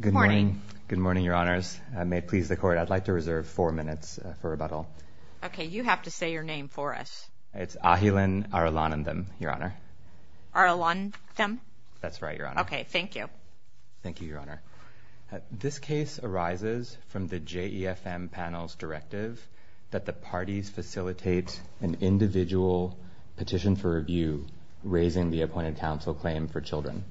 Good morning. Good morning, Your Honors. May it please the Court, I'd like to reserve four minutes for rebuttal. Okay, you have to say your name for us. It's Ahilan Arulanandam, Your Honor. Arulanandam? That's right, Your Honor. Okay, thank you. Thank you, Your Honor. This case arises from the JEFM panel's directive that the parties facilitate an individual petition for review, raising the appointed counsel claim for children.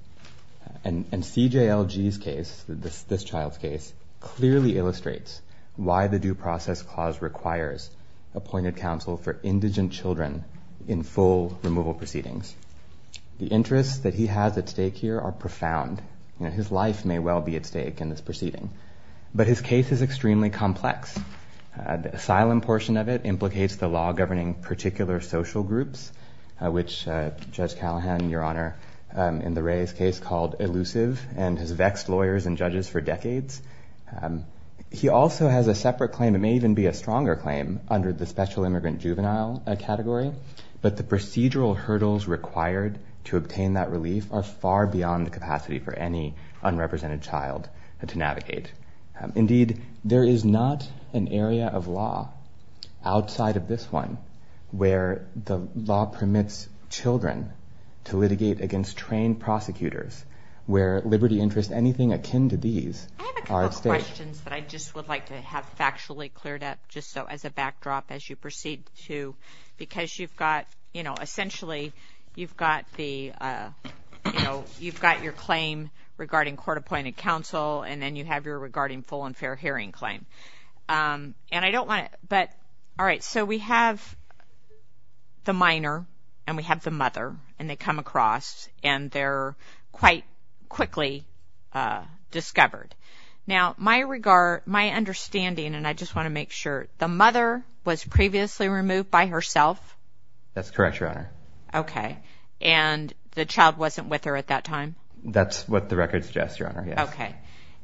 And C.J.L.G.'s case, this child's case, clearly illustrates why the Due Process Clause requires appointed counsel for indigent children in full removal proceedings. The interests that he has at stake here are profound. His life may well be at stake in this proceeding. But his case is extremely complex. The asylum portion of it implicates the law governing particular social groups, which Judge Callahan, Your Honor, in the Ray's case, called elusive, and has vexed lawyers and judges for decades. He also has a separate claim, it may even be a stronger claim, under the special immigrant juvenile category. But the procedural hurdles required to obtain that relief are far beyond the capacity for any unrepresented child to I have a couple questions that I just would like to have factually cleared up, just so as a backdrop, as you proceed to, because you've got, you know, essentially, you've got the, you know, you've got your claim regarding court-appointed counsel, and then you have your regarding full and fair hearing claim. And I don't want to, but, all right, so we have the minor, and we have the mother, and they come across, and they're quite quickly discovered. Now, my regard, my understanding, and I just want to make sure, the mother was previously removed by herself? That's correct, Your Honor. Okay. And the child wasn't with her at that time? That's what the record suggests, Your Honor, yes. Okay.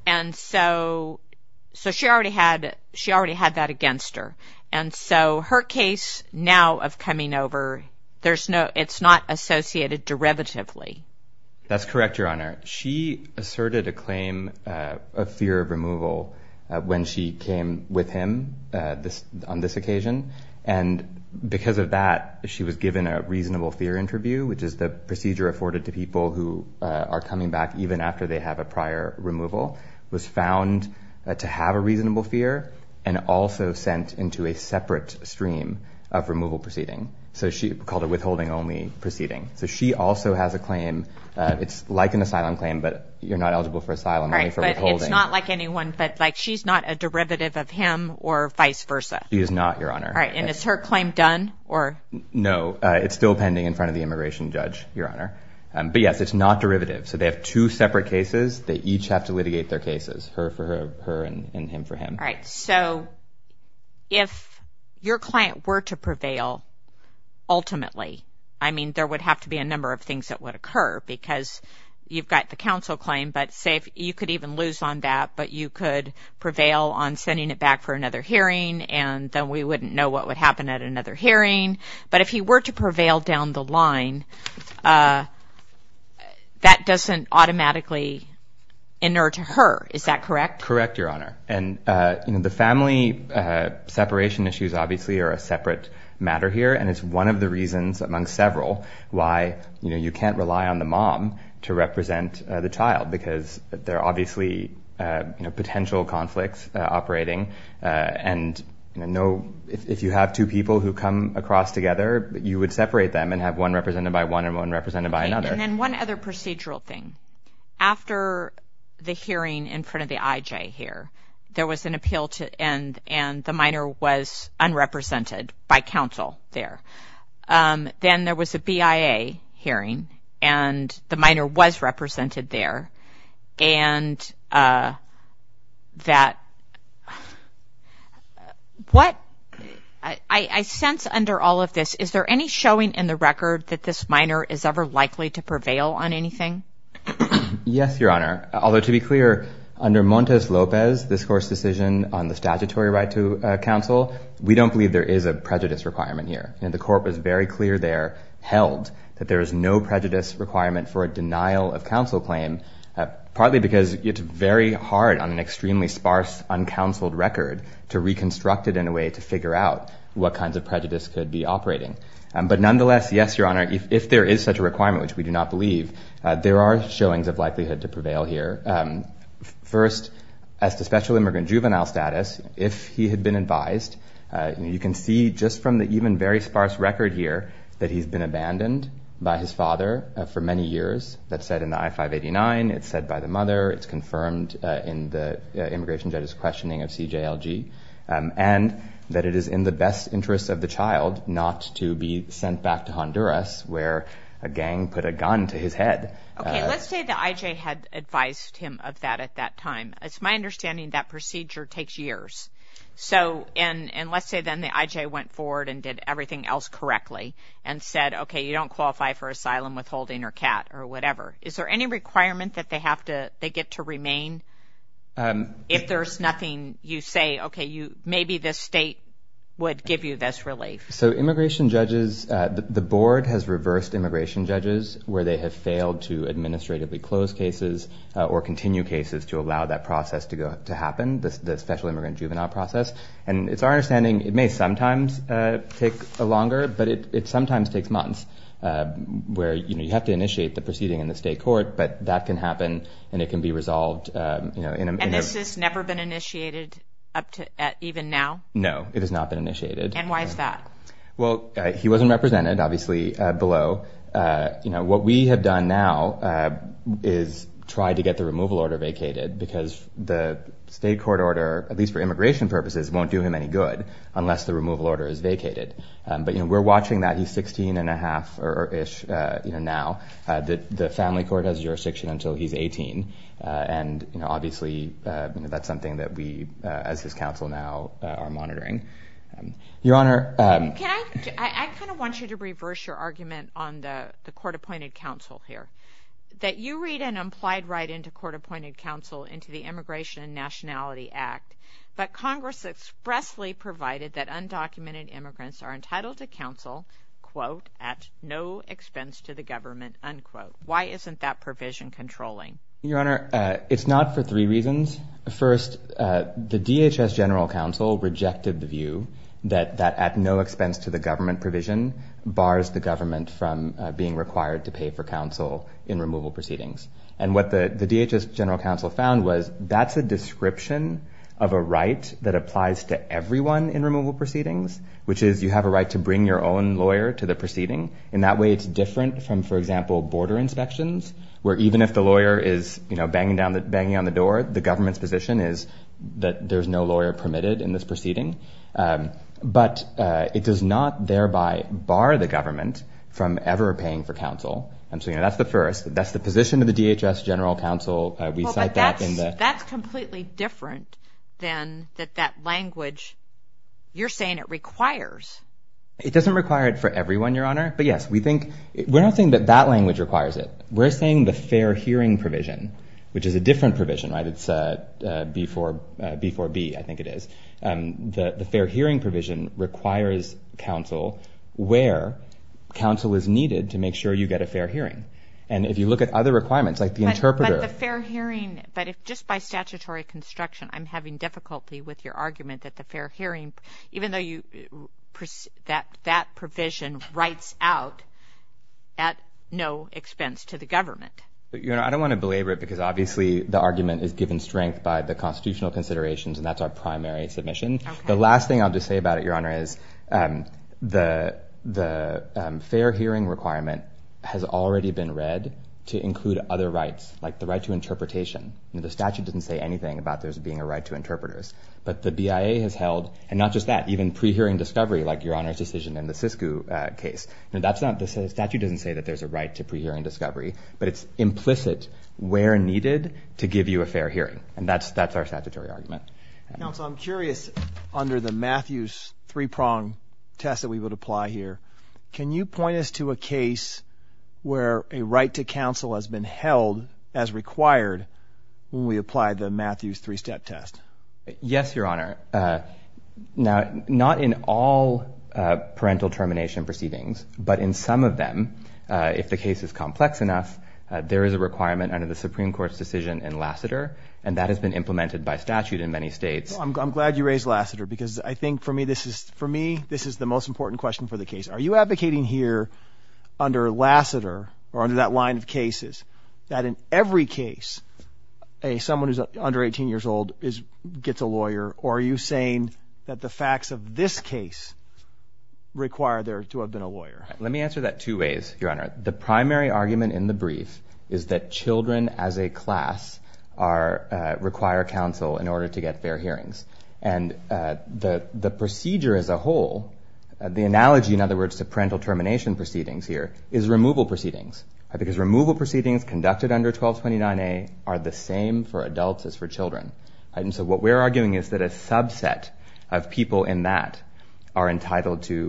And so, so she already had, she already had that against her. And so her case now of coming over, there's no, it's not associated derivatively. That's correct, Your Honor. She asserted a claim of fear of removal when she came with him on this occasion. And because of that, she was given a reasonable fear interview, which is the procedure afforded to people who are coming back even after they have a prior removal, was found to have a reasonable fear, and also sent into a separate stream of removal proceeding. So she called it withholding-only proceeding. So she also has a claim, it's like an asylum claim, but you're not eligible for asylum, only for withholding. All right, but it's not like anyone, but like, she's not a derivative of him, or vice versa? She is not, Your Honor. All right, and is her claim done, or? No, it's still pending in front of the immigration judge, Your Honor. But yes, it's not derivative. So they have two separate cases. They each have to litigate their cases, her for her, her and him for him. All right, so if your client were to prevail, ultimately, I mean, there would have to be a number of things that would occur, because you've got the counsel claim, but say, you could even lose on that, but you could prevail on sending it back for another hearing, and then we wouldn't know what would happen at the end of the line. That doesn't automatically inert to her, is that correct? Correct, Your Honor. And, you know, the family separation issues, obviously, are a separate matter here, and it's one of the reasons, among several, why, you know, you can't rely on the mom to represent the child, because there are obviously, you know, potential conflicts operating, and, you know, if you have two people who come across together, you would have one represented by one and one represented by another. Okay, and then one other procedural thing. After the hearing in front of the IJ here, there was an appeal to end, and the minor was unrepresented by counsel there. Then there was a BIA hearing, and the minor was represented there, and that, what, I sense under all of this, is there any showing in the record that this minor is ever likely to prevail on anything? Yes, Your Honor. Although, to be clear, under Montes Lopez, this court's decision on the statutory right to counsel, we don't believe there is a prejudice requirement here, and the court was very clear there, held, that there is no prejudice requirement for a denial of counsel claim, partly because it's very hard on an extremely sparse, uncounseled record to reconstruct it in a way to figure out what kinds of prejudice could be operating. But nonetheless, yes, Your Honor, if there is such a requirement, which we do not believe, there are showings of likelihood to prevail here. First, as to special immigrant juvenile status, if he had been advised, you can see just from the even very sparse record here that he's been abandoned by his father for many years. That's said in the I-589. It's said by the mother. It's confirmed in the immigration judge's questioning of CJLG. And that it is in the best interest of the child not to be sent back to Honduras where a gang put a gun to his head. Okay, let's say the IJ had advised him of that at that time. It's my understanding that procedure takes years. So, and let's say then the IJ went forward and did everything else correctly and said, okay, you don't qualify for asylum, withholding, or CAT, or whatever. Is there any requirement that they have to, they get to remain? If there's nothing, you say, okay, you, maybe this state would give you this relief. So immigration judges, the board has reversed immigration judges where they have failed to administratively close cases or continue cases to allow that process to go, to happen, the special immigrant juvenile process. And it's our understanding it may sometimes take longer, but it sometimes takes months where, you know, you have to initiate the proceeding in the state court, but that can happen and it can be resolved, you know, in a- And this has never been initiated up to, even now? No, it has not been initiated. And why is that? Well, he wasn't represented, obviously, below. You know, what we have done now is try to get the removal order vacated because the state court order, at least for immigration purposes, won't do him any good unless the removal order is vacated. But, you know, we're family court has jurisdiction until he's 18. And, you know, obviously, you know, that's something that we, as his counsel now, are monitoring. Your Honor- Can I- I kind of want you to reverse your argument on the court-appointed counsel here, that you read an implied right into court-appointed counsel into the Immigration and Nationality Act, but Congress expressly provided that undocumented immigrants are entitled to counsel, quote, at no expense to the government, unquote. Why isn't that provision controlling? Your Honor, it's not for three reasons. First, the DHS General Counsel rejected the view that that at no expense to the government provision bars the government from being required to pay for counsel in removal proceedings. And what the DHS General Counsel found was that's a description of a right that applies to everyone in removal proceedings, which is you have a right to bring your own lawyer to the proceeding. In that way, it's different from, for example, border inspections, where even if the lawyer is, you know, banging down the- banging on the door, the government's position is that there's no lawyer permitted in this proceeding. But it does not thereby bar the government from ever paying for counsel. And so, you know, that's the first. That's the position of the DHS General Counsel. We cite that in the- It doesn't require it for everyone, Your Honor. But yes, we think- we're not saying that that language requires it. We're saying the fair hearing provision, which is a different provision, right? It's B4- B4B, I think it is. The fair hearing provision requires counsel where counsel is needed to make sure you get a fair hearing. And if you look at other requirements, like the interpreter- But the fair hearing- but if just by statutory construction, I'm having difficulty with your argument that the fair hearing- even though you- that provision writes out at no expense to the government. But, Your Honor, I don't want to belabor it, because obviously the argument is given strength by the constitutional considerations, and that's our primary submission. The last thing I'll just say about it, Your Honor, is the fair hearing requirement has already been read to include other rights, like the right to interpretation. The statute doesn't say anything about there but the BIA has held- and not just that- even pre-hearing discovery, like Your Honor's decision in the SISCU case. That's not- the statute doesn't say that there's a right to pre-hearing discovery, but it's implicit where needed to give you a fair hearing. And that's our statutory argument. Counsel, I'm curious, under the Matthews three-prong test that we would apply here, can you point us to a case where a right to counsel has been held as required when we apply the Matthews three-step test? Yes, Your Honor. Now, not in all parental termination proceedings, but in some of them, if the case is complex enough, there is a requirement under the Supreme Court's decision in Lassiter, and that has been implemented by statute in many states. I'm glad you raised Lassiter, because I think for me this is- for me this is the most important question for the case. Are you advocating here under Lassiter, or under that line of cases, that in every case, a- someone who's under 18 years old is- gets a lawyer, or are you saying that the facts of this case require there to have been a lawyer? Let me answer that two ways, Your Honor. The primary argument in the brief is that children as a class are- require counsel in order to get fair hearings. And the procedure as a whole, the analogy, in other words, to parental termination proceedings here, is removal proceedings conducted under 1229A are the same for adults as for children. And so what we're arguing is that a subset of people in that are entitled to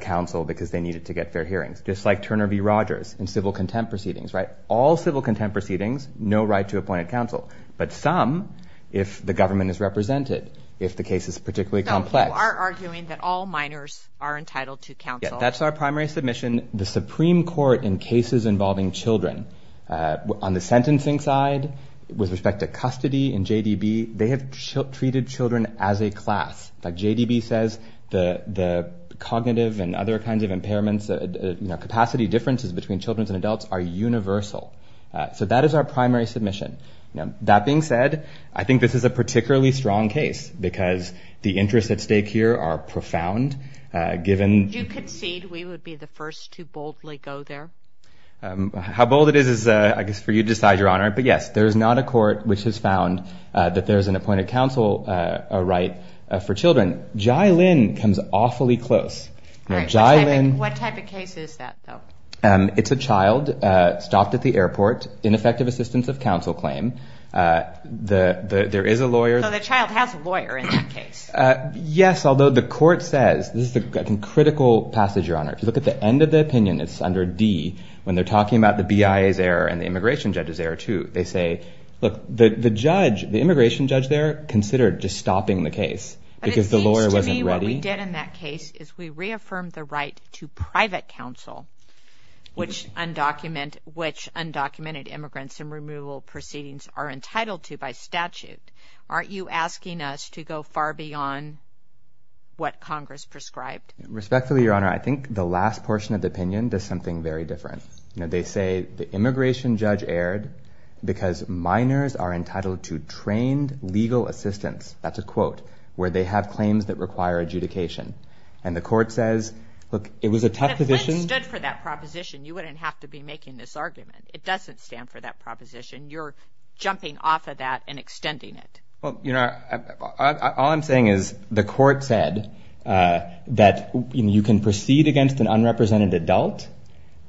counsel because they needed to get fair hearings, just like Turner v. Rogers in civil contempt proceedings, right? All civil contempt proceedings, no right to appointed counsel. But some, if the government is represented, if the case is particularly complex- Some people are arguing that all minors are entitled to counsel. Yeah, that's our primary submission. The Supreme Court in cases involving children, on the sentencing side, with respect to custody and JDB, they have treated children as a class. Like JDB says, the- the cognitive and other kinds of impairments, you know, capacity differences between children and adults are universal. So that is our primary submission. That being said, I think this is a particularly strong case because the interests at stake here are profound, given- How bold it is is, I guess, for you to decide, Your Honor. But yes, there's not a court which has found that there's an appointed counsel right for children. Jai Lynn comes awfully close. What type of case is that, though? It's a child stopped at the airport, ineffective assistance of counsel claim. There is a lawyer- So the child has a lawyer in that case? Yes, although the court says- this is a critical passage, Your Honor. If you look at the end of the opinion, it's under D, when they're talking about the BIA's error and the immigration judge's error, too. They say, look, the judge, the immigration judge there, considered just stopping the case because the lawyer wasn't ready. But it seems to me what we did in that case is we reaffirmed the right to private counsel, which undocumented immigrants in removal proceedings are entitled to by statute. Aren't you asking us to go far beyond what Congress prescribed? Respectfully, Your Honor, I think the last portion of the opinion does something very different. You know, they say the immigration judge erred because minors are entitled to trained legal assistance. That's a quote, where they have claims that require adjudication. And the court says, look, it was a tough decision- But if Lynn stood for that proposition, you wouldn't have to be making this argument. It doesn't stand for that proposition. You're off of that and extending it. Well, you know, all I'm saying is the court said that you can proceed against an unrepresented adult,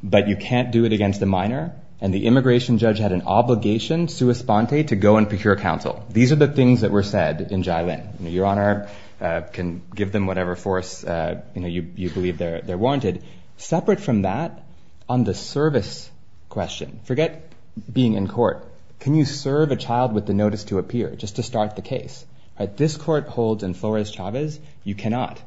but you can't do it against a minor. And the immigration judge had an obligation, sua sponte, to go and procure counsel. These are the things that were said in Jai Lynn. Your Honor can give them whatever force you believe they're warranted. Separate from that, on the service question, forget being in court. Can you serve a child with the notice to appear, just to start the case? This court holds in Flores-Chavez, you cannot.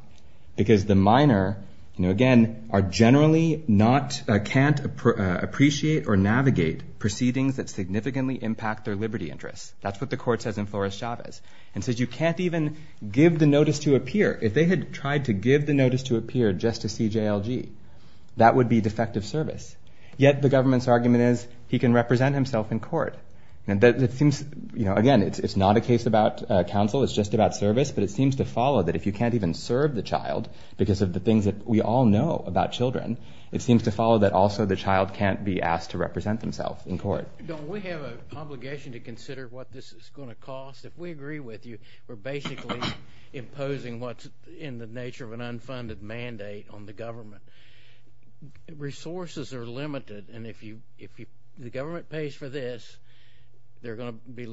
Because the minor, again, are generally not, can't appreciate or navigate proceedings that significantly impact their liberty interests. That's what the court says in Flores-Chavez. And says you can't even give the notice to appear. If they had tried to give the notice to appear just to see JLG, that would be defective service. Yet the government's argument is he can represent himself in court. And that seems, you know, again, it's not a case about counsel. It's just about service. But it seems to follow that if you can't even serve the child, because of the things that we all know about children, it seems to follow that also the child can't be asked to represent himself in court. Don't we have an obligation to consider what this is going to cost? If we agree with you, we're basically imposing what's in the nature of an unfunded mandate on the government. Resources are limited. And if the government pays for this, there are going to be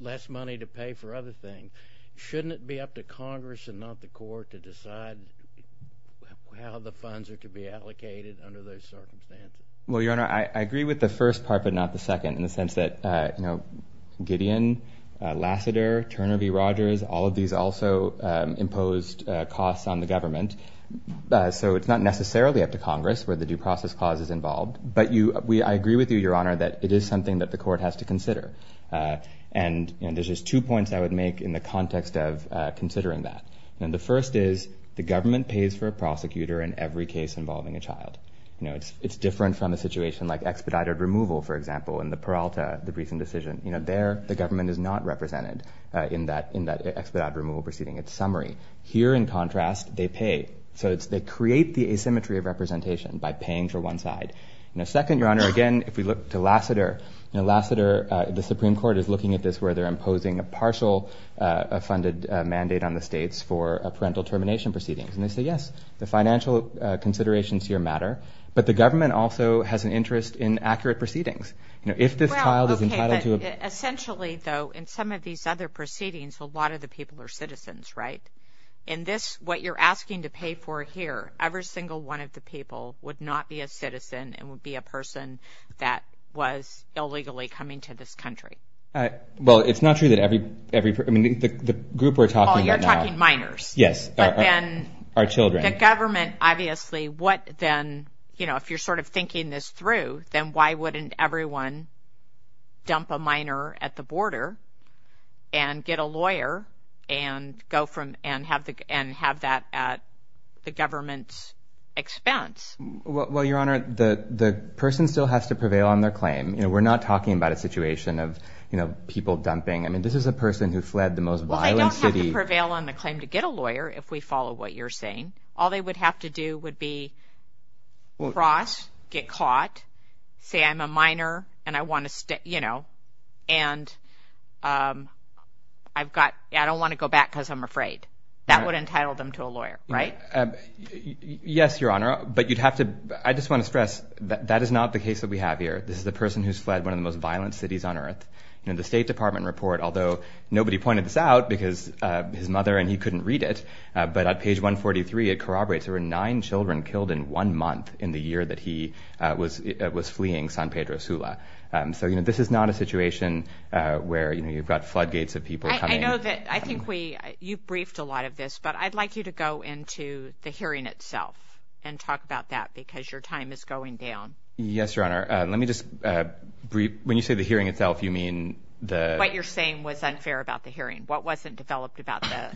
less money to pay for other things. Shouldn't it be up to Congress and not the court to decide how the funds are to be allocated under those circumstances? Well, Your Honor, I agree with the first part, but not the second, in the sense that, Gideon, Lassiter, Turner v. Rogers, all of these also imposed costs on the government. So it's not necessarily up to Congress where the due process clause is involved. But I agree with you, Your Honor, that it is something that the court has to consider. And there's just two points I would make in the context of considering that. And the first is the government pays for a prosecutor in every case involving a child. It's different from a situation like expedited removal, for example, in the Peralta, the recent decision. There, the government is not represented in that expedited removal proceeding. It's summary. Here, in contrast, they pay. So they create the asymmetry of representation by paying for one side. And second, Your Honor, again, if we look to Lassiter, Lassiter, the Supreme Court is looking at this where they're imposing a partial funded mandate on the states for parental termination proceedings. And they say, yes, the financial considerations here matter. But the government also has an interest in proceedings. You know, if this child is entitled to a... Essentially, though, in some of these other proceedings, a lot of the people are citizens, right? In this, what you're asking to pay for here, every single one of the people would not be a citizen and would be a person that was illegally coming to this country. Well, it's not true that every, every, I mean, the group we're talking about... Oh, you're talking minors. Yes, our children. The government, obviously, what then, you know, if you're sort of thinking this through, then why wouldn't everyone dump a minor at the border and get a lawyer and go from and have the, and have that at the government's expense? Well, Your Honor, the, the person still has to prevail on their claim. You know, we're not talking about a situation of, you know, people dumping. I mean, this is a person who fled the most violent city. Well, they don't have to prevail on the claim to get a lawyer if we follow what you're saying. All they would have to do would be cross, get caught, say, I'm a minor and I want to stay, you know, and I've got, I don't want to go back because I'm afraid. That would entitle them to a lawyer, right? Yes, Your Honor, but you'd have to, I just want to stress that that is not the case that we have here. This is the person who's fled one of the most violent cities on earth. You know, the State Department report, although nobody pointed this out because his mother and he had corroborated, there were nine children killed in one month in the year that he was, was fleeing San Pedro Sula. So, you know, this is not a situation where, you know, you've got floodgates of people coming. I know that, I think we, you've briefed a lot of this, but I'd like you to go into the hearing itself and talk about that because your time is going down. Yes, Your Honor. Let me just brief, when you say the hearing itself, you mean the... What you're saying was unfair about the hearing. What wasn't developed about the...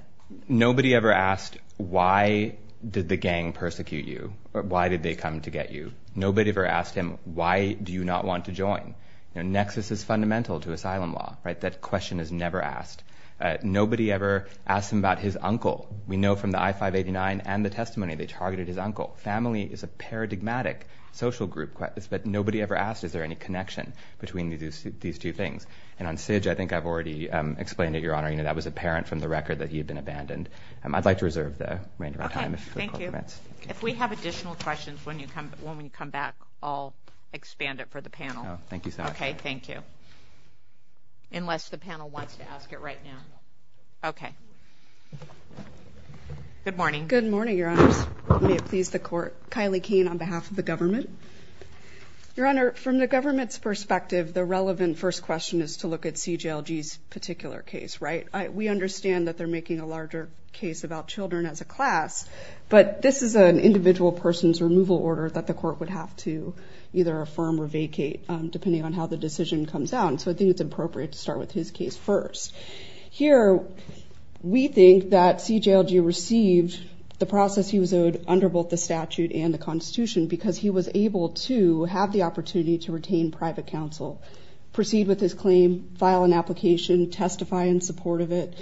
Nobody ever asked, why did the gang persecute you or why did they come to get you? Nobody ever asked him, why do you not want to join? You know, nexus is fundamental to asylum law, right? That question is never asked. Nobody ever asked him about his uncle. We know from the I-589 and the testimony, they targeted his uncle. Family is a paradigmatic social group, but nobody ever asked, is there any connection between these two things? And on SIJ, I think I've already explained it, Your Honor. You know, that was apparent from the record that he had been abandoned. I'd like to reserve the remainder of my time if the court permits. If we have additional questions when you come, when we come back, I'll expand it for the panel. Oh, thank you so much. Okay, thank you. Unless the panel wants to ask it right now. Okay. Good morning. Good morning, Your Honors. May it please the court. Kylie Kane on behalf of the government. Your Honor, from the government's perspective, the relevant first question is to look at CGLG's particular case, right? We understand that they're making a larger case about children as a class, but this is an individual person's removal order that the court would have to either affirm or vacate depending on how the decision comes out. And so I think it's appropriate to start with his case first. Here, we think that CGLG received the process he was owed under both the statute and the constitution because he was able to have the opportunity to retain private counsel, proceed with his claim, file an application, testify in support of it.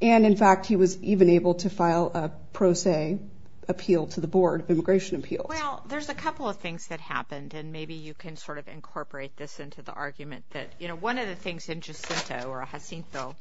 And in fact, he was even able to file a pro se appeal to the Board of Immigration Appeals. Well, there's a couple of things that happened. And maybe you can sort of incorporate this into the argument that, you know, one of the things in Jacinto or Jacinto,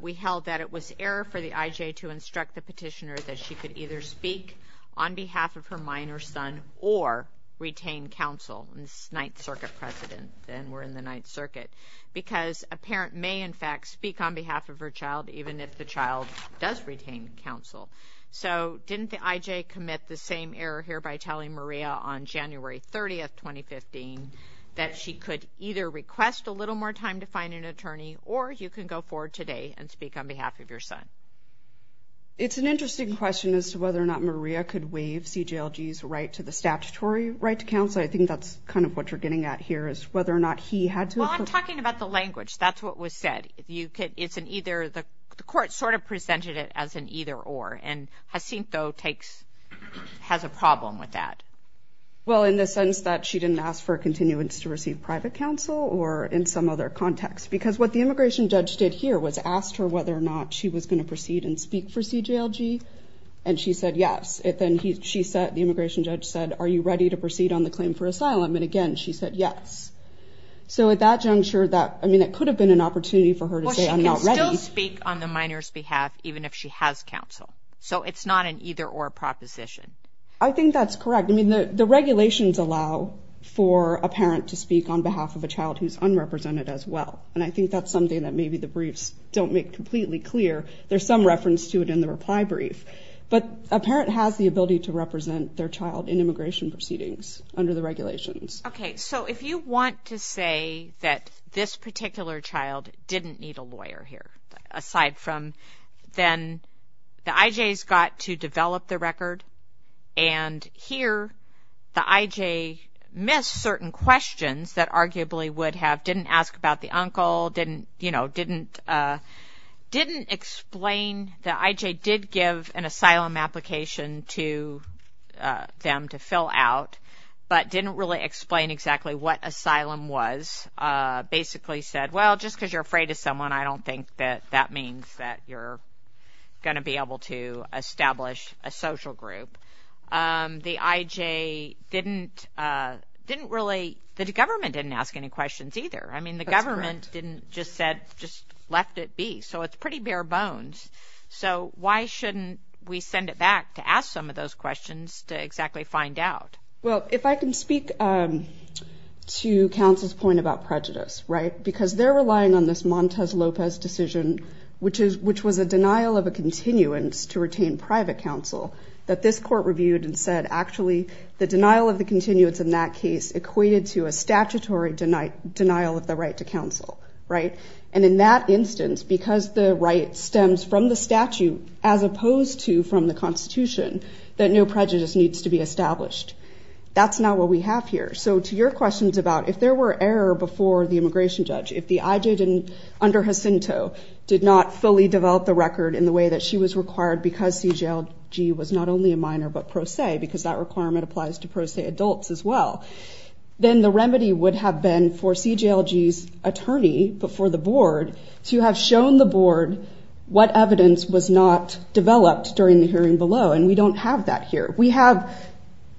we held that it was error for the IJ to instruct the petitioner that she could either speak on behalf of her minor son or retain counsel. This is Ninth Circuit precedent, and we're in the Ninth Circuit, because a parent may, in fact, speak on behalf of her child even if the child does retain counsel. So didn't the IJ commit the same error here by telling Maria on January 30, 2015, that she could either request a little more time to find an attorney or you can go forward today and speak on behalf of your son? It's an interesting question as to whether or not Maria could waive CGLG's right to the statutory right to counsel. I think that's kind of what you're getting at here is whether or not he had to. Well, I'm talking about the language. That's what was said. If you could, it's an either. The court sort of presented it as an either or. And Jacinto takes, has a problem with that. Well, in the sense that she didn't ask for a continuance to receive private counsel or in some other context, because what the immigration judge did here was asked her whether or not she was going to proceed and speak for CGLG. And she said yes. Then she said, the immigration judge said, are you ready to proceed on the claim for asylum? And again, she said yes. So at that juncture, that, I mean, it could have been an opportunity for her to say, I'm not ready. Well, she can still speak on the minor's behalf, even if she has counsel. So it's not an either or proposition. I think that's correct. I mean, the regulations allow for a parent to speak on behalf of a child who's unrepresented as well. And I think that's something that maybe the briefs don't make completely clear. There's some reference to it in the reply brief. But a parent has the ability to under the regulations. Okay. So if you want to say that this particular child didn't need a lawyer here, aside from then the IJs got to develop the record. And here, the IJ missed certain questions that arguably would have, didn't ask about the uncle, didn't, you know, didn't, didn't explain the IJ did give an asylum application to them to fill out, but didn't really explain exactly what asylum was. Basically said, well, just because you're afraid of someone, I don't think that that means that you're going to be able to establish a social group. The IJ didn't, didn't really, the government didn't ask any questions either. I mean, the government didn't just said, just left it be. So it's pretty bare bones. So why shouldn't we send it back to ask some of those questions to exactly find out? Well, if I can speak to counsel's point about prejudice, right, because they're relying on this Montez Lopez decision, which is, which was a denial of a continuance to retain private counsel that this court reviewed and said, actually, the denial of the continuance in that case equated to a statutory denial of the right to counsel. Right. And in that instance, because the right stems from the statute, as opposed to from the constitution, that no prejudice needs to be established. That's not what we have here. So to your questions about if there were error before the immigration judge, if the IJ didn't, under Jacinto, did not fully develop the record in the way that she was required because CJLG was not only a minor, but pro se, because that requirement applies to pro se adults as well, then the remedy would have been for CJLG's attorney before the board to have shown the board what evidence was not developed during the hearing below. And we don't have that here. We have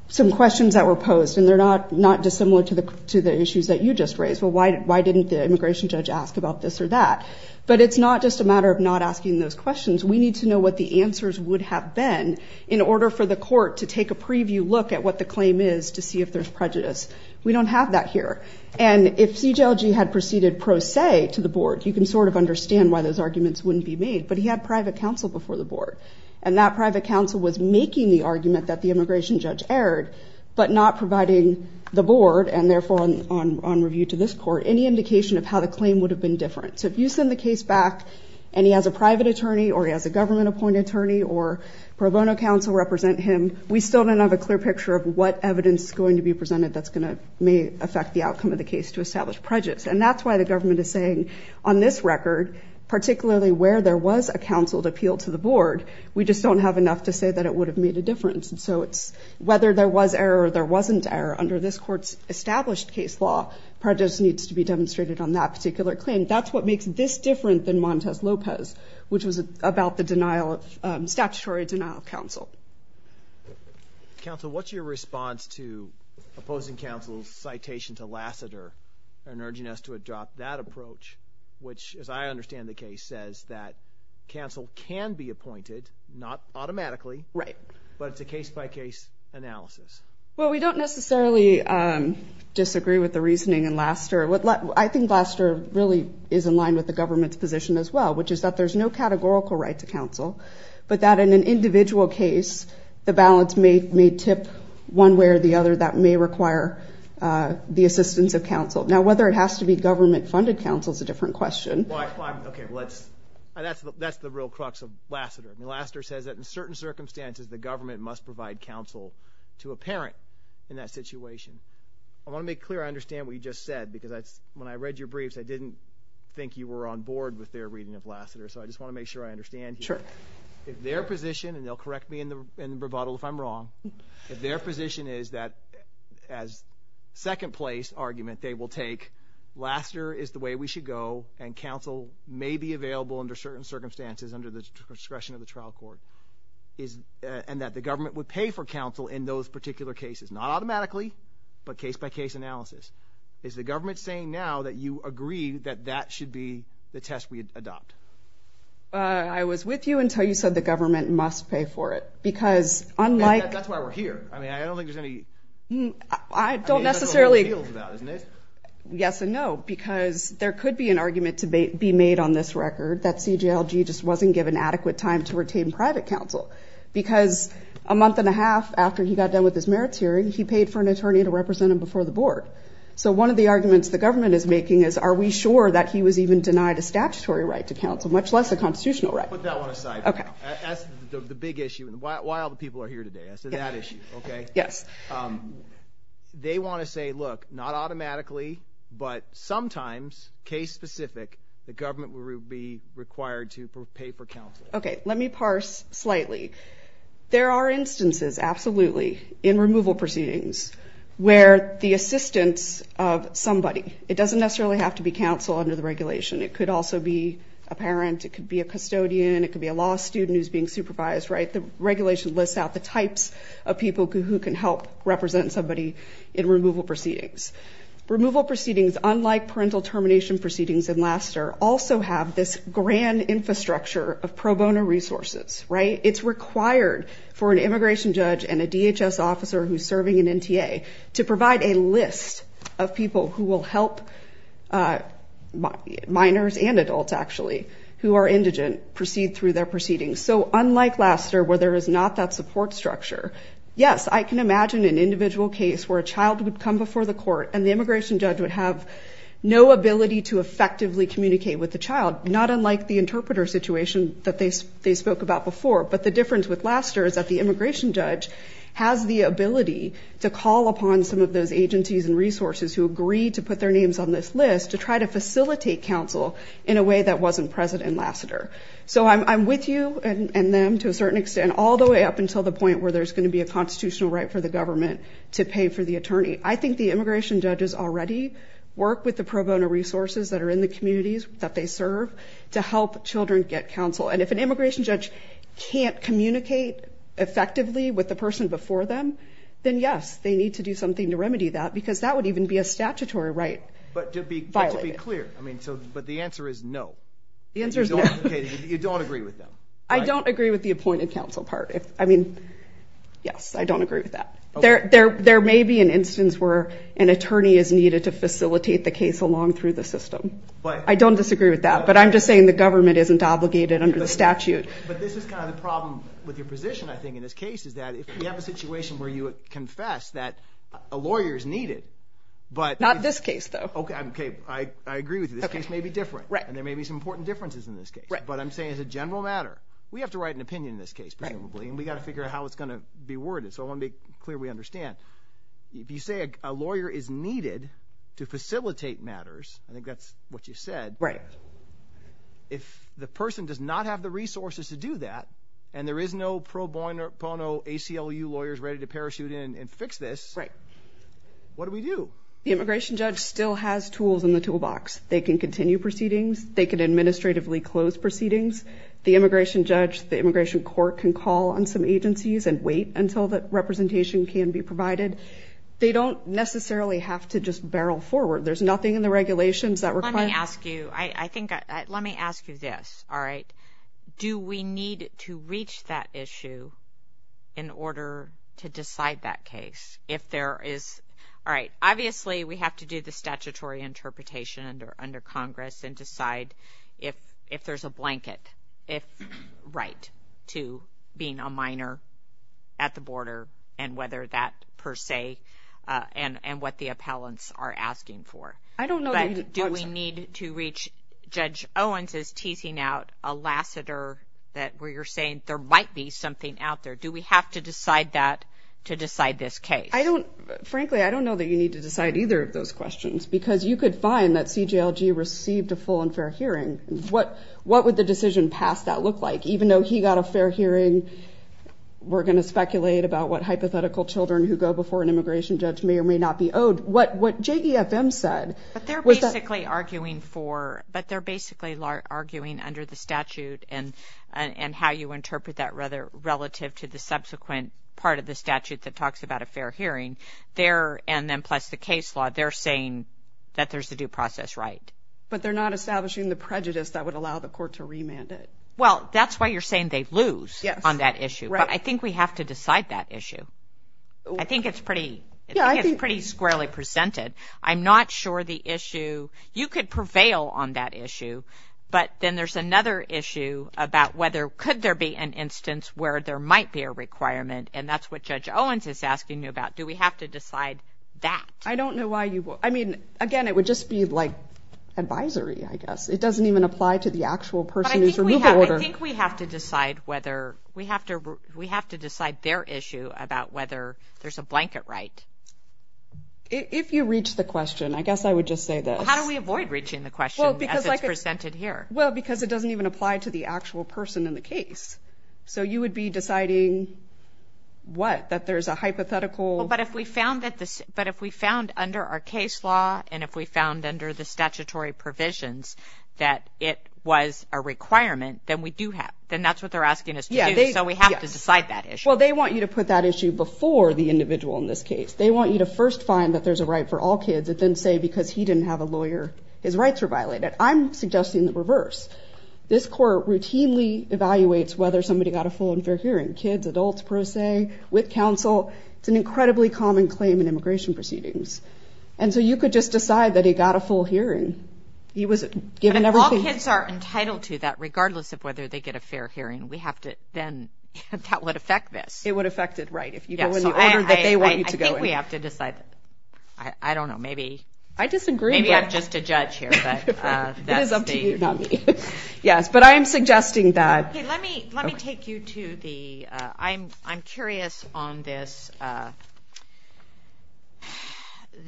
some questions that were posed and they're not dissimilar to the issues that you just raised. Well, why didn't the immigration judge ask about this or that? But it's not just a matter of not asking those questions. We need to know what the answers would have been in order for the court to take a preview look at what the claim is to see if there's prejudice. We don't have that here. And if CJLG had proceeded pro se to the board, you can sort of understand why those arguments wouldn't be made. But he had private counsel before the board. And that private counsel was making the argument that the immigration judge erred, but not providing the board, and therefore on review to this court, any indication of how the claim would have been different. So if you send the case back and he has a private attorney or he has a government appointed attorney or pro bono counsel represent him, we still don't have a clear picture of what evidence is going to be presented that's going to may affect the outcome of the case to establish prejudice. And that's why the government is saying on this record, particularly where there was a counsel to appeal to the board, we just don't have enough to say that it would have made a difference. And so it's whether there was error or there wasn't error under this court's established case law, prejudice needs to be demonstrated on that particular claim. That's what makes this different than Montes Lopez, which was about the denial of statutory denial of counsel. Counsel, what's your response to opposing counsel's citation to Lassiter and urging us to adopt that approach, which, as I understand the case, says that counsel can be appointed, not automatically, right, but it's a case by case analysis. Well, we don't necessarily disagree with the reasoning in Lassiter. I think Lassiter really is in line with the government's position as well, which is that there's no categorical right to counsel, but that in an individual case, the balance may tip one way or the other that may require the assistance of counsel. Now, whether it has to be government funded counsel is a different question. Okay, well, that's the real crux of Lassiter. Lassiter says that in certain circumstances, the government must provide counsel to a parent in that situation. I want to make clear I understand what you just said, because when I read your briefs, I didn't think you were on board with their reading of Lassiter, so I just want to make sure I understand. Sure. If their position, and they'll correct me in the rebuttal if I'm wrong, if their position is that as second place argument they will take, Lassiter is the way we should go, and counsel may be available under certain circumstances, under the discretion of the trial court, and that the government would pay for counsel in those particular cases, not automatically, but case-by-case analysis. Is the government saying now that you agree that that should be the test we adopt? I was with you until you said the government must pay for it, because unlike... That's why we're here. I mean, I don't think there's any... I don't necessarily... Yes and no, because there could be an argument to be made on this record that CJLG just wasn't given adequate time to retain private counsel, because a month and a half after he got done with his merits hearing, he paid for an attorney to represent him before the board. So one of the arguments the government is making is, are we sure that he was even denied a statutory right to counsel, much less a constitutional right? Put that one aside. Okay. That's the big issue, and why all the people are here today. I said that issue, okay? Yes. They want to say, look, not automatically, but sometimes, case-specific, the government will be required to pay for counsel. Okay. Let me parse slightly. There are instances, absolutely, in removal proceedings where the assistance of somebody... It doesn't necessarily have to be counsel under the regulation. It could also be a parent. It could be a custodian. It could be a law student who's being supervised, right? The regulation lists out the types of people who can help represent somebody in removal proceedings. Removal proceedings, unlike parental termination proceedings in LASTER, also have this grand infrastructure of pro bono resources, right? It's required for an immigration judge and a DHS officer who's serving in NTA to provide a list of people who will help minors and adults, actually, who are indigent proceed through their proceedings. So unlike LASTER, where there is not that support structure, yes, I can imagine an individual case where a child would come before the court and the immigration judge would have no ability to effectively communicate with the child, not unlike the interpreter situation that they spoke about before. But the difference with LASTER is that the immigration judge has the ability to call upon some of those agencies and resources who agree to put their names on this list to try to facilitate counsel in a way that wasn't present in LASTER. So I'm with you and them, to a certain extent, all the way up until the point where there's going to be a constitutional right for the government to pay for the attorney. I think the immigration judges already work with the pro bono resources that are in the communities that they serve to help children get counsel. And if an immigration judge can't communicate effectively with the person before them, then yes, they need to do something to remedy that because that would even be a statutory right violated. But to be clear, I mean, so, but the answer is no. The answer is no. You don't agree with them. I don't agree with the appointed counsel part. I mean, yes, I don't agree with that. There may be an instance where an attorney is needed to facilitate the case along through the system. I don't disagree with that, but I'm just saying the government isn't obligated under the statute. But this is kind of the problem with your position, I think, in this case, is that if we have a situation where you confess that a lawyer is needed, but... Not this case, though. Okay. I agree with you. This case may be different and there may be some important differences in this case. But I'm saying as a general matter, we have to write an opinion in this case, presumably, and we got to figure out how it's going to be worded. So I want to be clear we understand. If you say a lawyer is needed to facilitate matters, I think that's what you said. Right. If the person does not have the resources to do that, and there is no pro bono ACLU lawyers ready to parachute in and fix this. Right. What do we do? The immigration judge still has tools in the toolbox. They can continue proceedings. They can administratively close proceedings. The immigration judge, the immigration court can call on some agencies and wait until the representation can be provided. They don't necessarily have to just barrel forward. There's nothing in the regulations that require... Let me ask you this. All right. Do we need to reach that issue in order to decide that case? If there is... All right. Obviously, we have to do the statutory interpretation under Congress and decide if there's a blanket, if right, to being a minor at the border, and whether that per se, and what the appellants are asking for. I don't know that you... But do we need to reach... Judge Owens is teasing out a lassiter that where you're saying there might be something out there. Do we have to decide that to decide this case? Frankly, I don't know that you need to decide either of those questions, because you could find that CJLG received a full and fair hearing. What would the decision past that look like? Even though he got a fair hearing, we're going to speculate about what hypothetical children who go before an immigration judge may or may not be owed. What JEFM said was that... But they're basically arguing for... But they're basically arguing under the statute and how you interpret that relative to the subsequent part of the statute that talks about a fair hearing. There, and then plus the case law, they're saying that there's a due process right. But they're not establishing the prejudice that would allow the court to remand it. Well, that's why you're saying they lose on that issue. But I think we have to decide that issue. I think it's pretty squarely presented. I'm not sure the issue... You could prevail on that issue, but then there's another issue about whether could there be an instance where there might be a requirement, and that's what Judge Owens is asking you about. Do we have to decide that? I don't know why you... I mean, again, it would just be like advisory, I guess. It doesn't even apply to the actual person who's removal order. I think we have to decide whether... We have to decide their issue about whether there's a blanket right. If you reach the question, I guess I would just say this. How do we avoid reaching the question as it's presented here? Well, because it doesn't even apply to the actual person in the case. So you would be deciding what? That there's a hypothetical... But if we found under our case law and if we found under the statutory provisions that it was a requirement, then that's what they're asking us to do. So we have to decide that issue. Well, they want you to put that issue before the individual in this case. They want you to first find that there's a right for all kids and then say because he didn't have a lawyer, his rights were violated. I'm suggesting the reverse. This court routinely evaluates whether somebody got a full and fair hearing, kids, adults, per se, with counsel. It's an incredibly common claim in immigration proceedings. And so you could just decide that he got a full hearing. He was given everything... But if all kids are entitled to that, regardless of whether they get a fair hearing, we have to then... That would affect this. It would affect it, right, if you go in the order that they want you to go in. I think we have to decide that. I don't know, I disagree. Maybe I'm just a judge here. It is up to you, not me. Yes, but I am suggesting that... Let me take you to the... I'm curious on this,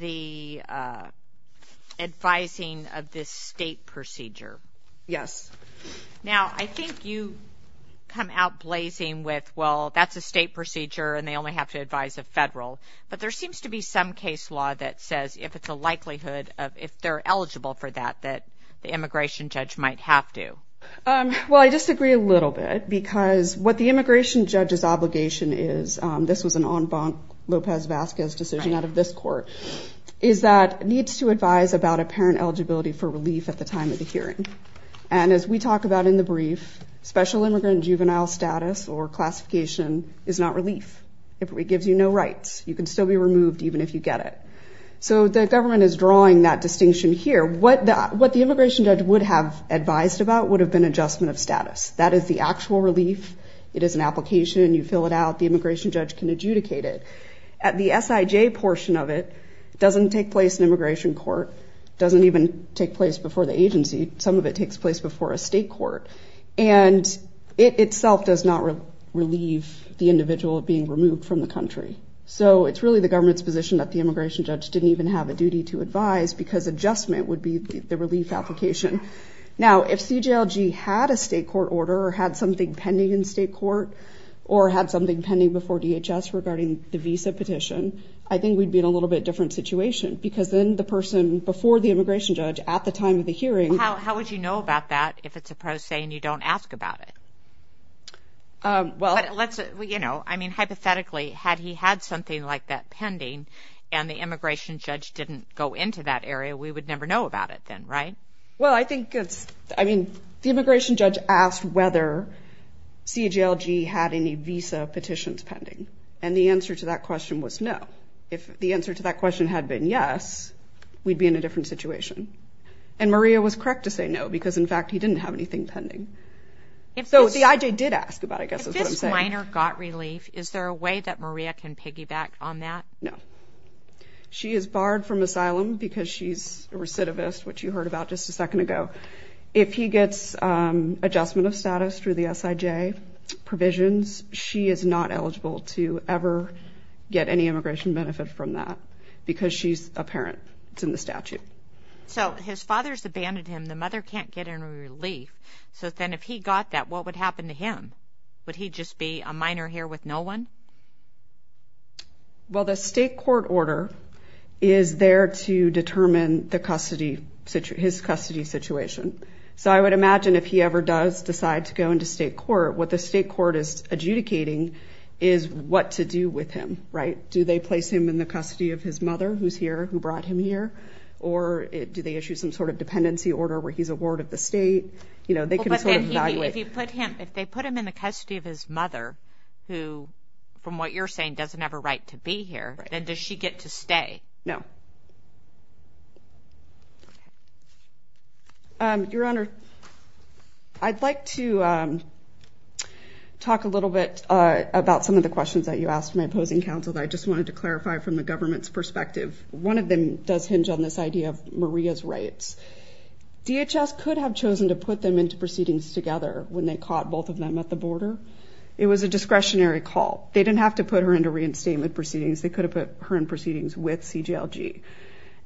the advising of this state procedure. Yes. Now, I think you come out blazing with, well, that's a state procedure and they only have to advise a federal. But there seems to be some case law that says if it's a likelihood of, if they're eligible for that, that the immigration judge might have to. Well, I disagree a little bit because what the immigration judge's obligation is, this was an en banc Lopez-Vasquez decision out of this court, is that it needs to advise about apparent eligibility for relief at the time of the hearing. And as we talk about in the brief, special immigrant juvenile status or classification is not relief. It gives you no rights. You can still be removed even if you get it. So the government is drawing that distinction here. What the immigration judge would have advised about would have been adjustment of status. That is the actual relief. It is an application. You fill it out. The immigration judge can adjudicate it. At the SIJ portion of it, it doesn't take place in immigration court. It doesn't even take place before the agency. Some of it takes place before a state court. And it itself does not relieve the individual of being removed from the country. So it's really the government's position that the immigration judge didn't even have a duty to advise because adjustment would be the relief application. Now, if CJLG had a state court order or had something pending in state court or had something pending before DHS regarding the visa petition, I think we'd be in a little bit different situation because then the person before the immigration judge at the time of the hearing... How would you know about that if it's a pro se and you don't ask about it? Well, let's... I mean, hypothetically, had he had something like that pending and the immigration judge didn't go into that area, we would never know about it then, right? Well, I think it's... I mean, the immigration judge asked whether CJLG had any visa petitions pending. And the answer to that question was no. If the answer to that question had been yes, we'd be in a different situation. And Maria was correct to have anything pending. So the IJ did ask about it, I guess is what I'm saying. If this minor got relief, is there a way that Maria can piggyback on that? No. She is barred from asylum because she's a recidivist, which you heard about just a second ago. If he gets adjustment of status through the SIJ provisions, she is not eligible to ever get any immigration benefit from that because she's a parent. It's in the statute. So his father's abandoned him. The mother can't get any relief. So then if he got that, what would happen to him? Would he just be a minor here with no one? Well, the state court order is there to determine the custody, his custody situation. So I would imagine if he ever does decide to go into state court, what the state court is adjudicating is what to do with him, right? Do they place him in the custody of his mother who's here, who brought him here? Or do they issue some sort of dependency order where he's a ward of the state? If they put him in the custody of his mother who, from what you're saying, doesn't have a right to be here, then does she get to stay? No. Your Honor, I'd like to talk a little bit about some of the questions that you asked my colleagues. One of them does hinge on this idea of Maria's rights. DHS could have chosen to put them into proceedings together when they caught both of them at the border. It was a discretionary call. They didn't have to put her into reinstatement proceedings. They could have put her in proceedings with CJLG.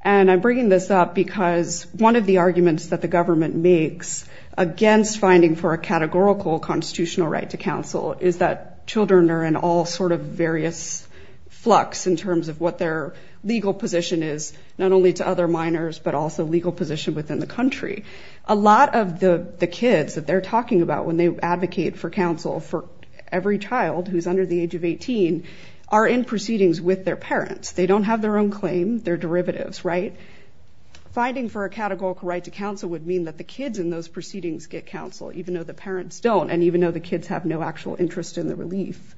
And I'm bringing this up because one of the arguments that the government makes against finding for a categorical constitutional right to counsel is that children and all sort of various flux in terms of what their legal position is, not only to other minors, but also legal position within the country. A lot of the kids that they're talking about when they advocate for counsel for every child who's under the age of 18 are in proceedings with their parents. They don't have their own claim, their derivatives, right? Finding for a categorical right to counsel would mean that the kids in those proceedings get counsel, even though the parents don't, and even though the kids have no actual interest in the relief,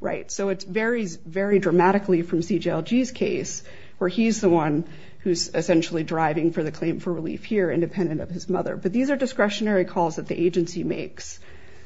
right? So it varies very dramatically from CJLG's case, where he's the one who's essentially driving for the claim for relief here, independent of his mother. But these are discretionary calls that the agency makes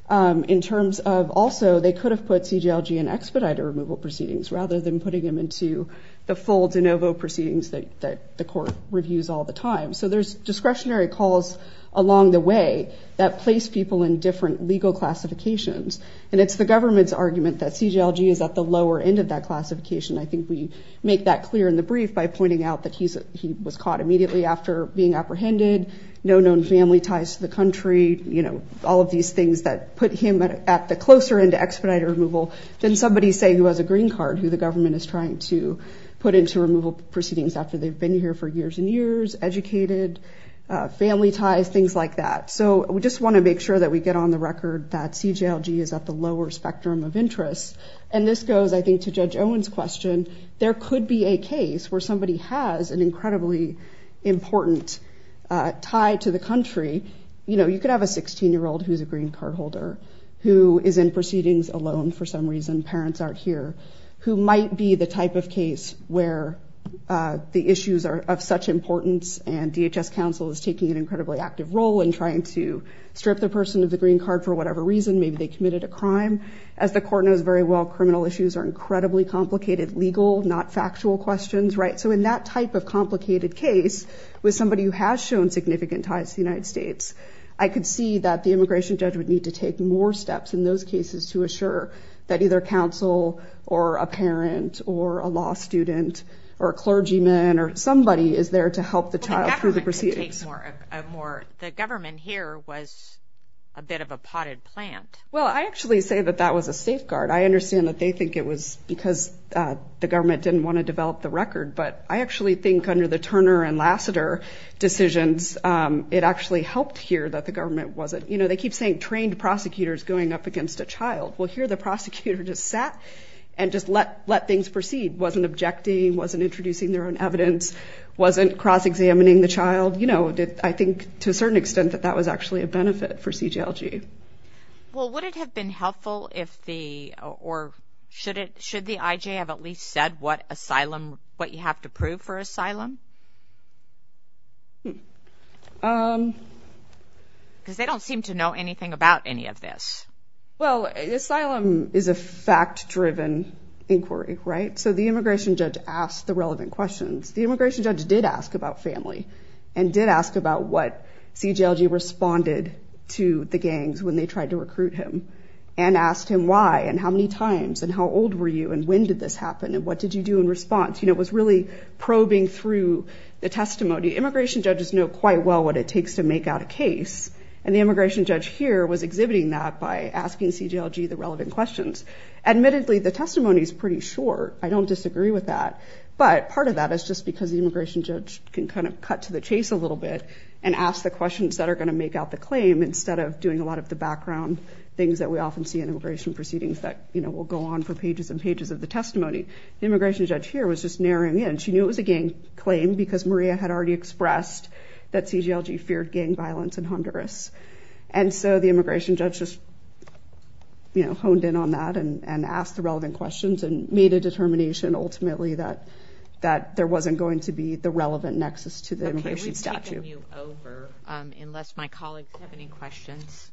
in terms of also they could have put CJLG in expediter removal proceedings rather than putting him into the full de novo proceedings that the court reviews all the time. So there's discretionary calls along the way that place people in different legal classifications. And it's the government's argument that CJLG is at the lower end of that classification. I think we make that clear in the brief by pointing out that he was caught immediately after being apprehended, no known family ties to the country, you know, all of these things that put him at the closer end to expediter removal than somebody, say, who has a green card, who the government is trying to put into removal proceedings after they've been here for years and years, educated, family ties, things like that. So we just want to make sure that we get on the record that CJLG is at the lower spectrum of interest. And this goes, I think, to Judge Owen's question, there could be a case where somebody has an incredibly important tie to the country. You know, you could have a 16-year-old who's a green card holder, who is in proceedings alone for some reason, parents aren't here, who might be the type of case where the issues are of such importance and DHS counsel is taking an incredibly active role in trying to strip the person of the green card for whatever reason, maybe they committed a crime. As the court knows very well, criminal issues are incredibly complicated, legal, not factual questions, right? So in that type of complicated case with somebody who has shown significant ties to the United States, I could see that the immigration judge would need to take more steps in those cases to assure that either counsel or a parent or a law student or clergyman or somebody is there to help the child through the proceedings. The government here was a bit of a potted plant. Well, I actually say that that was a safeguard. I understand that they think it was because the government didn't want to develop the record, but I actually think under the Turner and Lassiter decisions, it actually helped here that the government wasn't, you know, they keep saying prosecutors going up against a child. Well, here the prosecutor just sat and just let things proceed, wasn't objecting, wasn't introducing their own evidence, wasn't cross-examining the child. You know, I think to a certain extent that that was actually a benefit for CJLG. Well, would it have been helpful if the, or should the IJ have at least said what asylum, what you have to prove for asylum? Because they don't seem to know anything about any of this. Well, asylum is a fact-driven inquiry, right? So the immigration judge asked the relevant questions. The immigration judge did ask about family and did ask about what CJLG responded to the gangs when they tried to recruit him and asked him why and how many times and how old were you and when did this happen and what did you do in response? You know, it was really probing through the testimony. Immigration judges know quite well what it takes to make out a case and the immigration judge here was exhibiting that by asking CJLG the relevant questions. Admittedly, the testimony is pretty short. I don't disagree with that, but part of that is just because the immigration judge can kind of cut to the chase a little bit and ask the questions that are going to make out the claim instead of doing a lot of the background things that we often see in immigration proceedings that, you know, will go on for pages and pages of the testimony. The immigration judge here was just narrowing in. She knew it was a gang claim because Maria had already expressed that CJLG feared gang violence in Honduras and so the immigration judge just, you know, honed in on that and asked the relevant questions and made a determination ultimately that there wasn't going to be the relevant nexus to the immigration statute. Okay, we're taking you over unless my colleagues have any questions.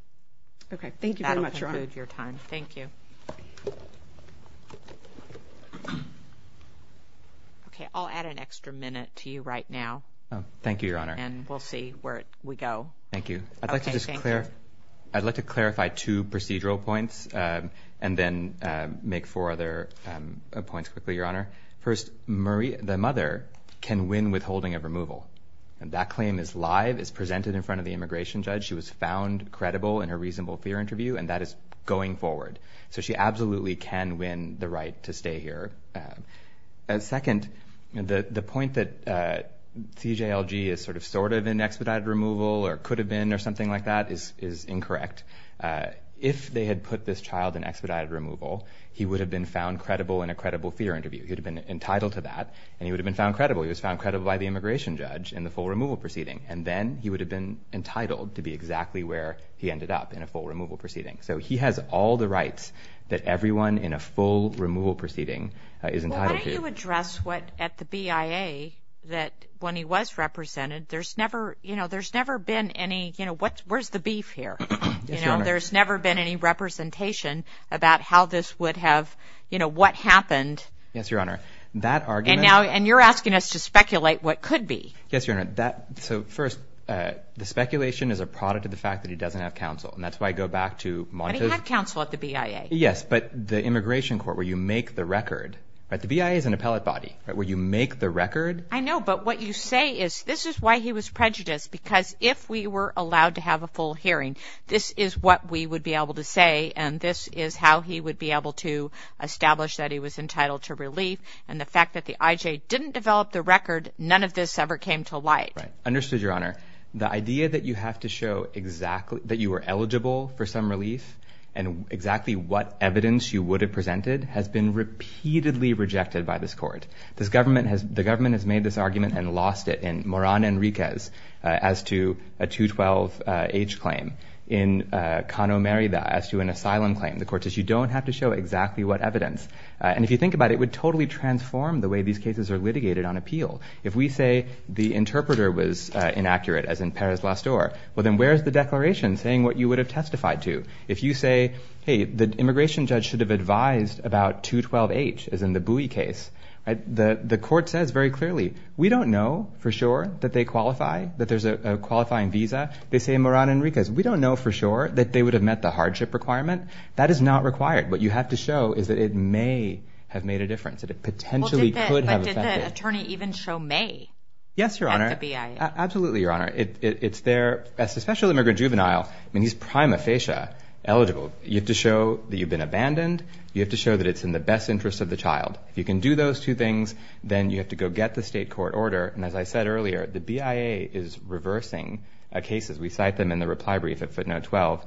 Okay, thank you very much. That'll conclude your time. Thank you. Okay, I'll add an extra minute to you right now. Thank you, Your Honor. And we'll see where we go. Thank you. I'd like to just clarify two procedural points and then make four other points quickly, Your Honor. First, the mother can win withholding of removal and that claim is presented in front of the immigration judge. She was found credible in her reasonable fear interview and that is going forward. So she absolutely can win the right to stay here. And second, the point that CJLG is sort of sort of in expedited removal or could have been or something like that is incorrect. If they had put this child in expedited removal, he would have been found credible in a credible fear interview. He'd have been entitled to that and he would have been found credible. He was found credible by the immigration judge in the full removal proceedings. He would have been entitled to be exactly where he ended up in a full removal proceeding. So he has all the rights that everyone in a full removal proceeding is entitled to. Why don't you address what at the BIA that when he was represented, there's never, you know, there's never been any, you know, what, where's the beef here? You know, there's never been any representation about how this would have, you know, what happened. Yes, Your Honor. That argument. And now, and you're asking us to speculate what could be. Yes, Your Honor. That, so first, the speculation is a product of the fact that he doesn't have counsel, and that's why I go back to Montes. But he had counsel at the BIA. Yes, but the immigration court where you make the record, right, the BIA is an appellate body, right, where you make the record. I know, but what you say is this is why he was prejudiced, because if we were allowed to have a full hearing, this is what we would be able to say, and this is how he would be able to establish that he was entitled to relief, and the fact that the IJ didn't develop the record, none of this ever came to light. Right, understood, Your Honor. The idea that you have to show exactly, that you were eligible for some relief, and exactly what evidence you would have presented, has been repeatedly rejected by this court. This government has, the government has made this argument and lost it in Moran Enriquez as to a 212 age claim, in Cano Merida as to an asylum claim. The court says you don't have to show exactly what evidence. And if you think about it, it would totally transform the way these cases are litigated on appeal. If we say the interpreter was inaccurate, as in Perez Lastor, well then where's the declaration saying what you would have testified to? If you say, hey, the immigration judge should have advised about 212 age, as in the Bui case, right, the court says very clearly, we don't know for sure that they qualify, that there's a qualifying visa. They say in Moran Enriquez, we don't know for sure that they would have met the hardship requirement. That is not required. What you have to show is that it may have made a difference, that it potentially could have affected. But did the attorney even show May at the BIA? Yes, Your Honor. Absolutely, Your Honor. It's their, especially immigrant juvenile, I mean, he's prima facie eligible. You have to show that you've been abandoned. You have to show that it's in the best interest of the child. If you can do those two things, then you have to go get the state court order. And as I said earlier, the BIA is reversing cases. We cite them in the reply brief at footnote 12.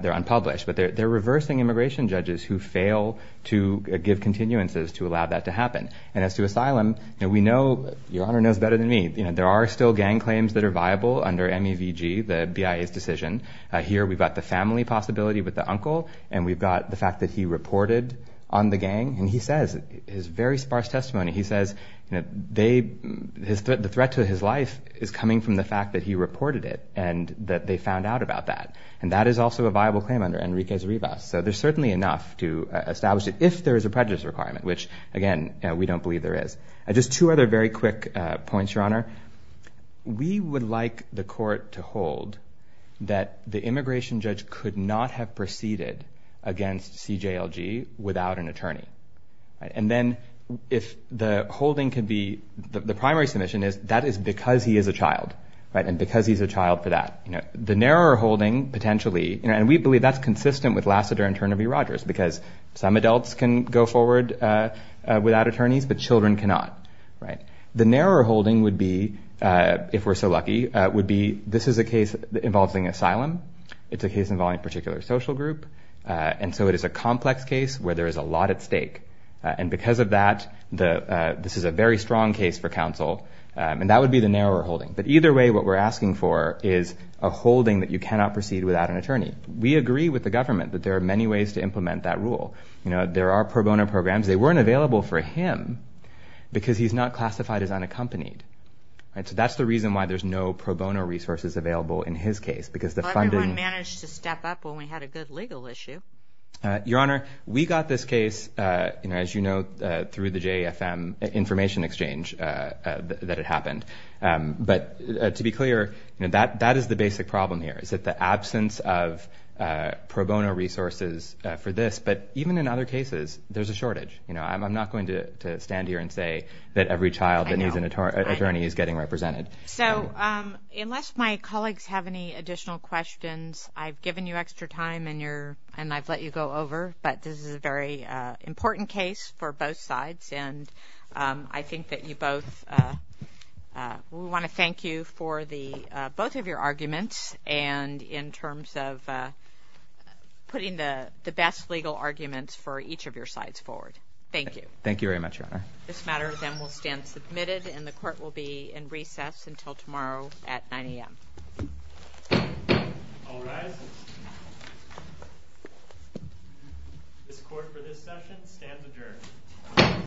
They're unpublished, but they're reversing immigration judges who fail to give continuances to allow that to happen. And as to asylum, now we know, Your Honor knows better than me, you know, there are still gang claims that are viable under MEVG, the BIA's decision. Here we've got the family possibility with the uncle, and we've got the fact that he reported on the gang. And he says, his very sparse testimony, he says, you know, they, the threat to his life is coming from the fact that he reported it and that they found out about that. And that is also a viable claim under Enrique's rebus. So there's certainly enough to establish it if there is a prejudice requirement, which again, we don't believe there is. Just two other very quick points, Your Honor. We would like the court to hold that the immigration judge could not have proceeded against CJLG without an attorney. And then if the holding could be, the primary submission is that is because he is a child, right? And because he's a child for that, you know, the narrower holding potentially, and we believe that's consistent with Lassiter and Turner v. Rogers, because some adults can go forward without attorneys, but children cannot, right? The narrower holding would be, if we're so lucky, would be, this is a case involving asylum. It's a case involving a particular social group. And so it is a complex case where there is a lot at stake. And because of that, the, this is a very strong case for counsel, and that would be the narrower holding. But either way, what we're asking for is a holding that you cannot proceed without an attorney. We agree with the government that there are many ways to implement that rule. You know, there are pro bono programs. They weren't available for him because he's not classified as unaccompanied, right? So that's the reason why there's no pro bono resources available in his case, because the funding... But everyone managed to step up when we had a good legal issue. Your Honor, we got this case, you know, as you know, through the JAFM information exchange that had happened. But to be clear, that is the basic problem here, is that the absence of pro bono resources for this, but even in other cases, there's a shortage. You know, I'm not going to stand here and say that every child that needs an attorney is getting represented. So unless my colleagues have any additional questions, I've given you extra time and you're, and I've let you go over, but this is a very important case for both sides. And I think that you both, we want to thank you for the, both of your arguments and in terms of putting the best legal arguments for each of your sides forward. Thank you. Thank you very much, Your Honor. This matter then will stand submitted and the court will be in recess until tomorrow at 9 a.m. All rise. This court for this session stands adjourned.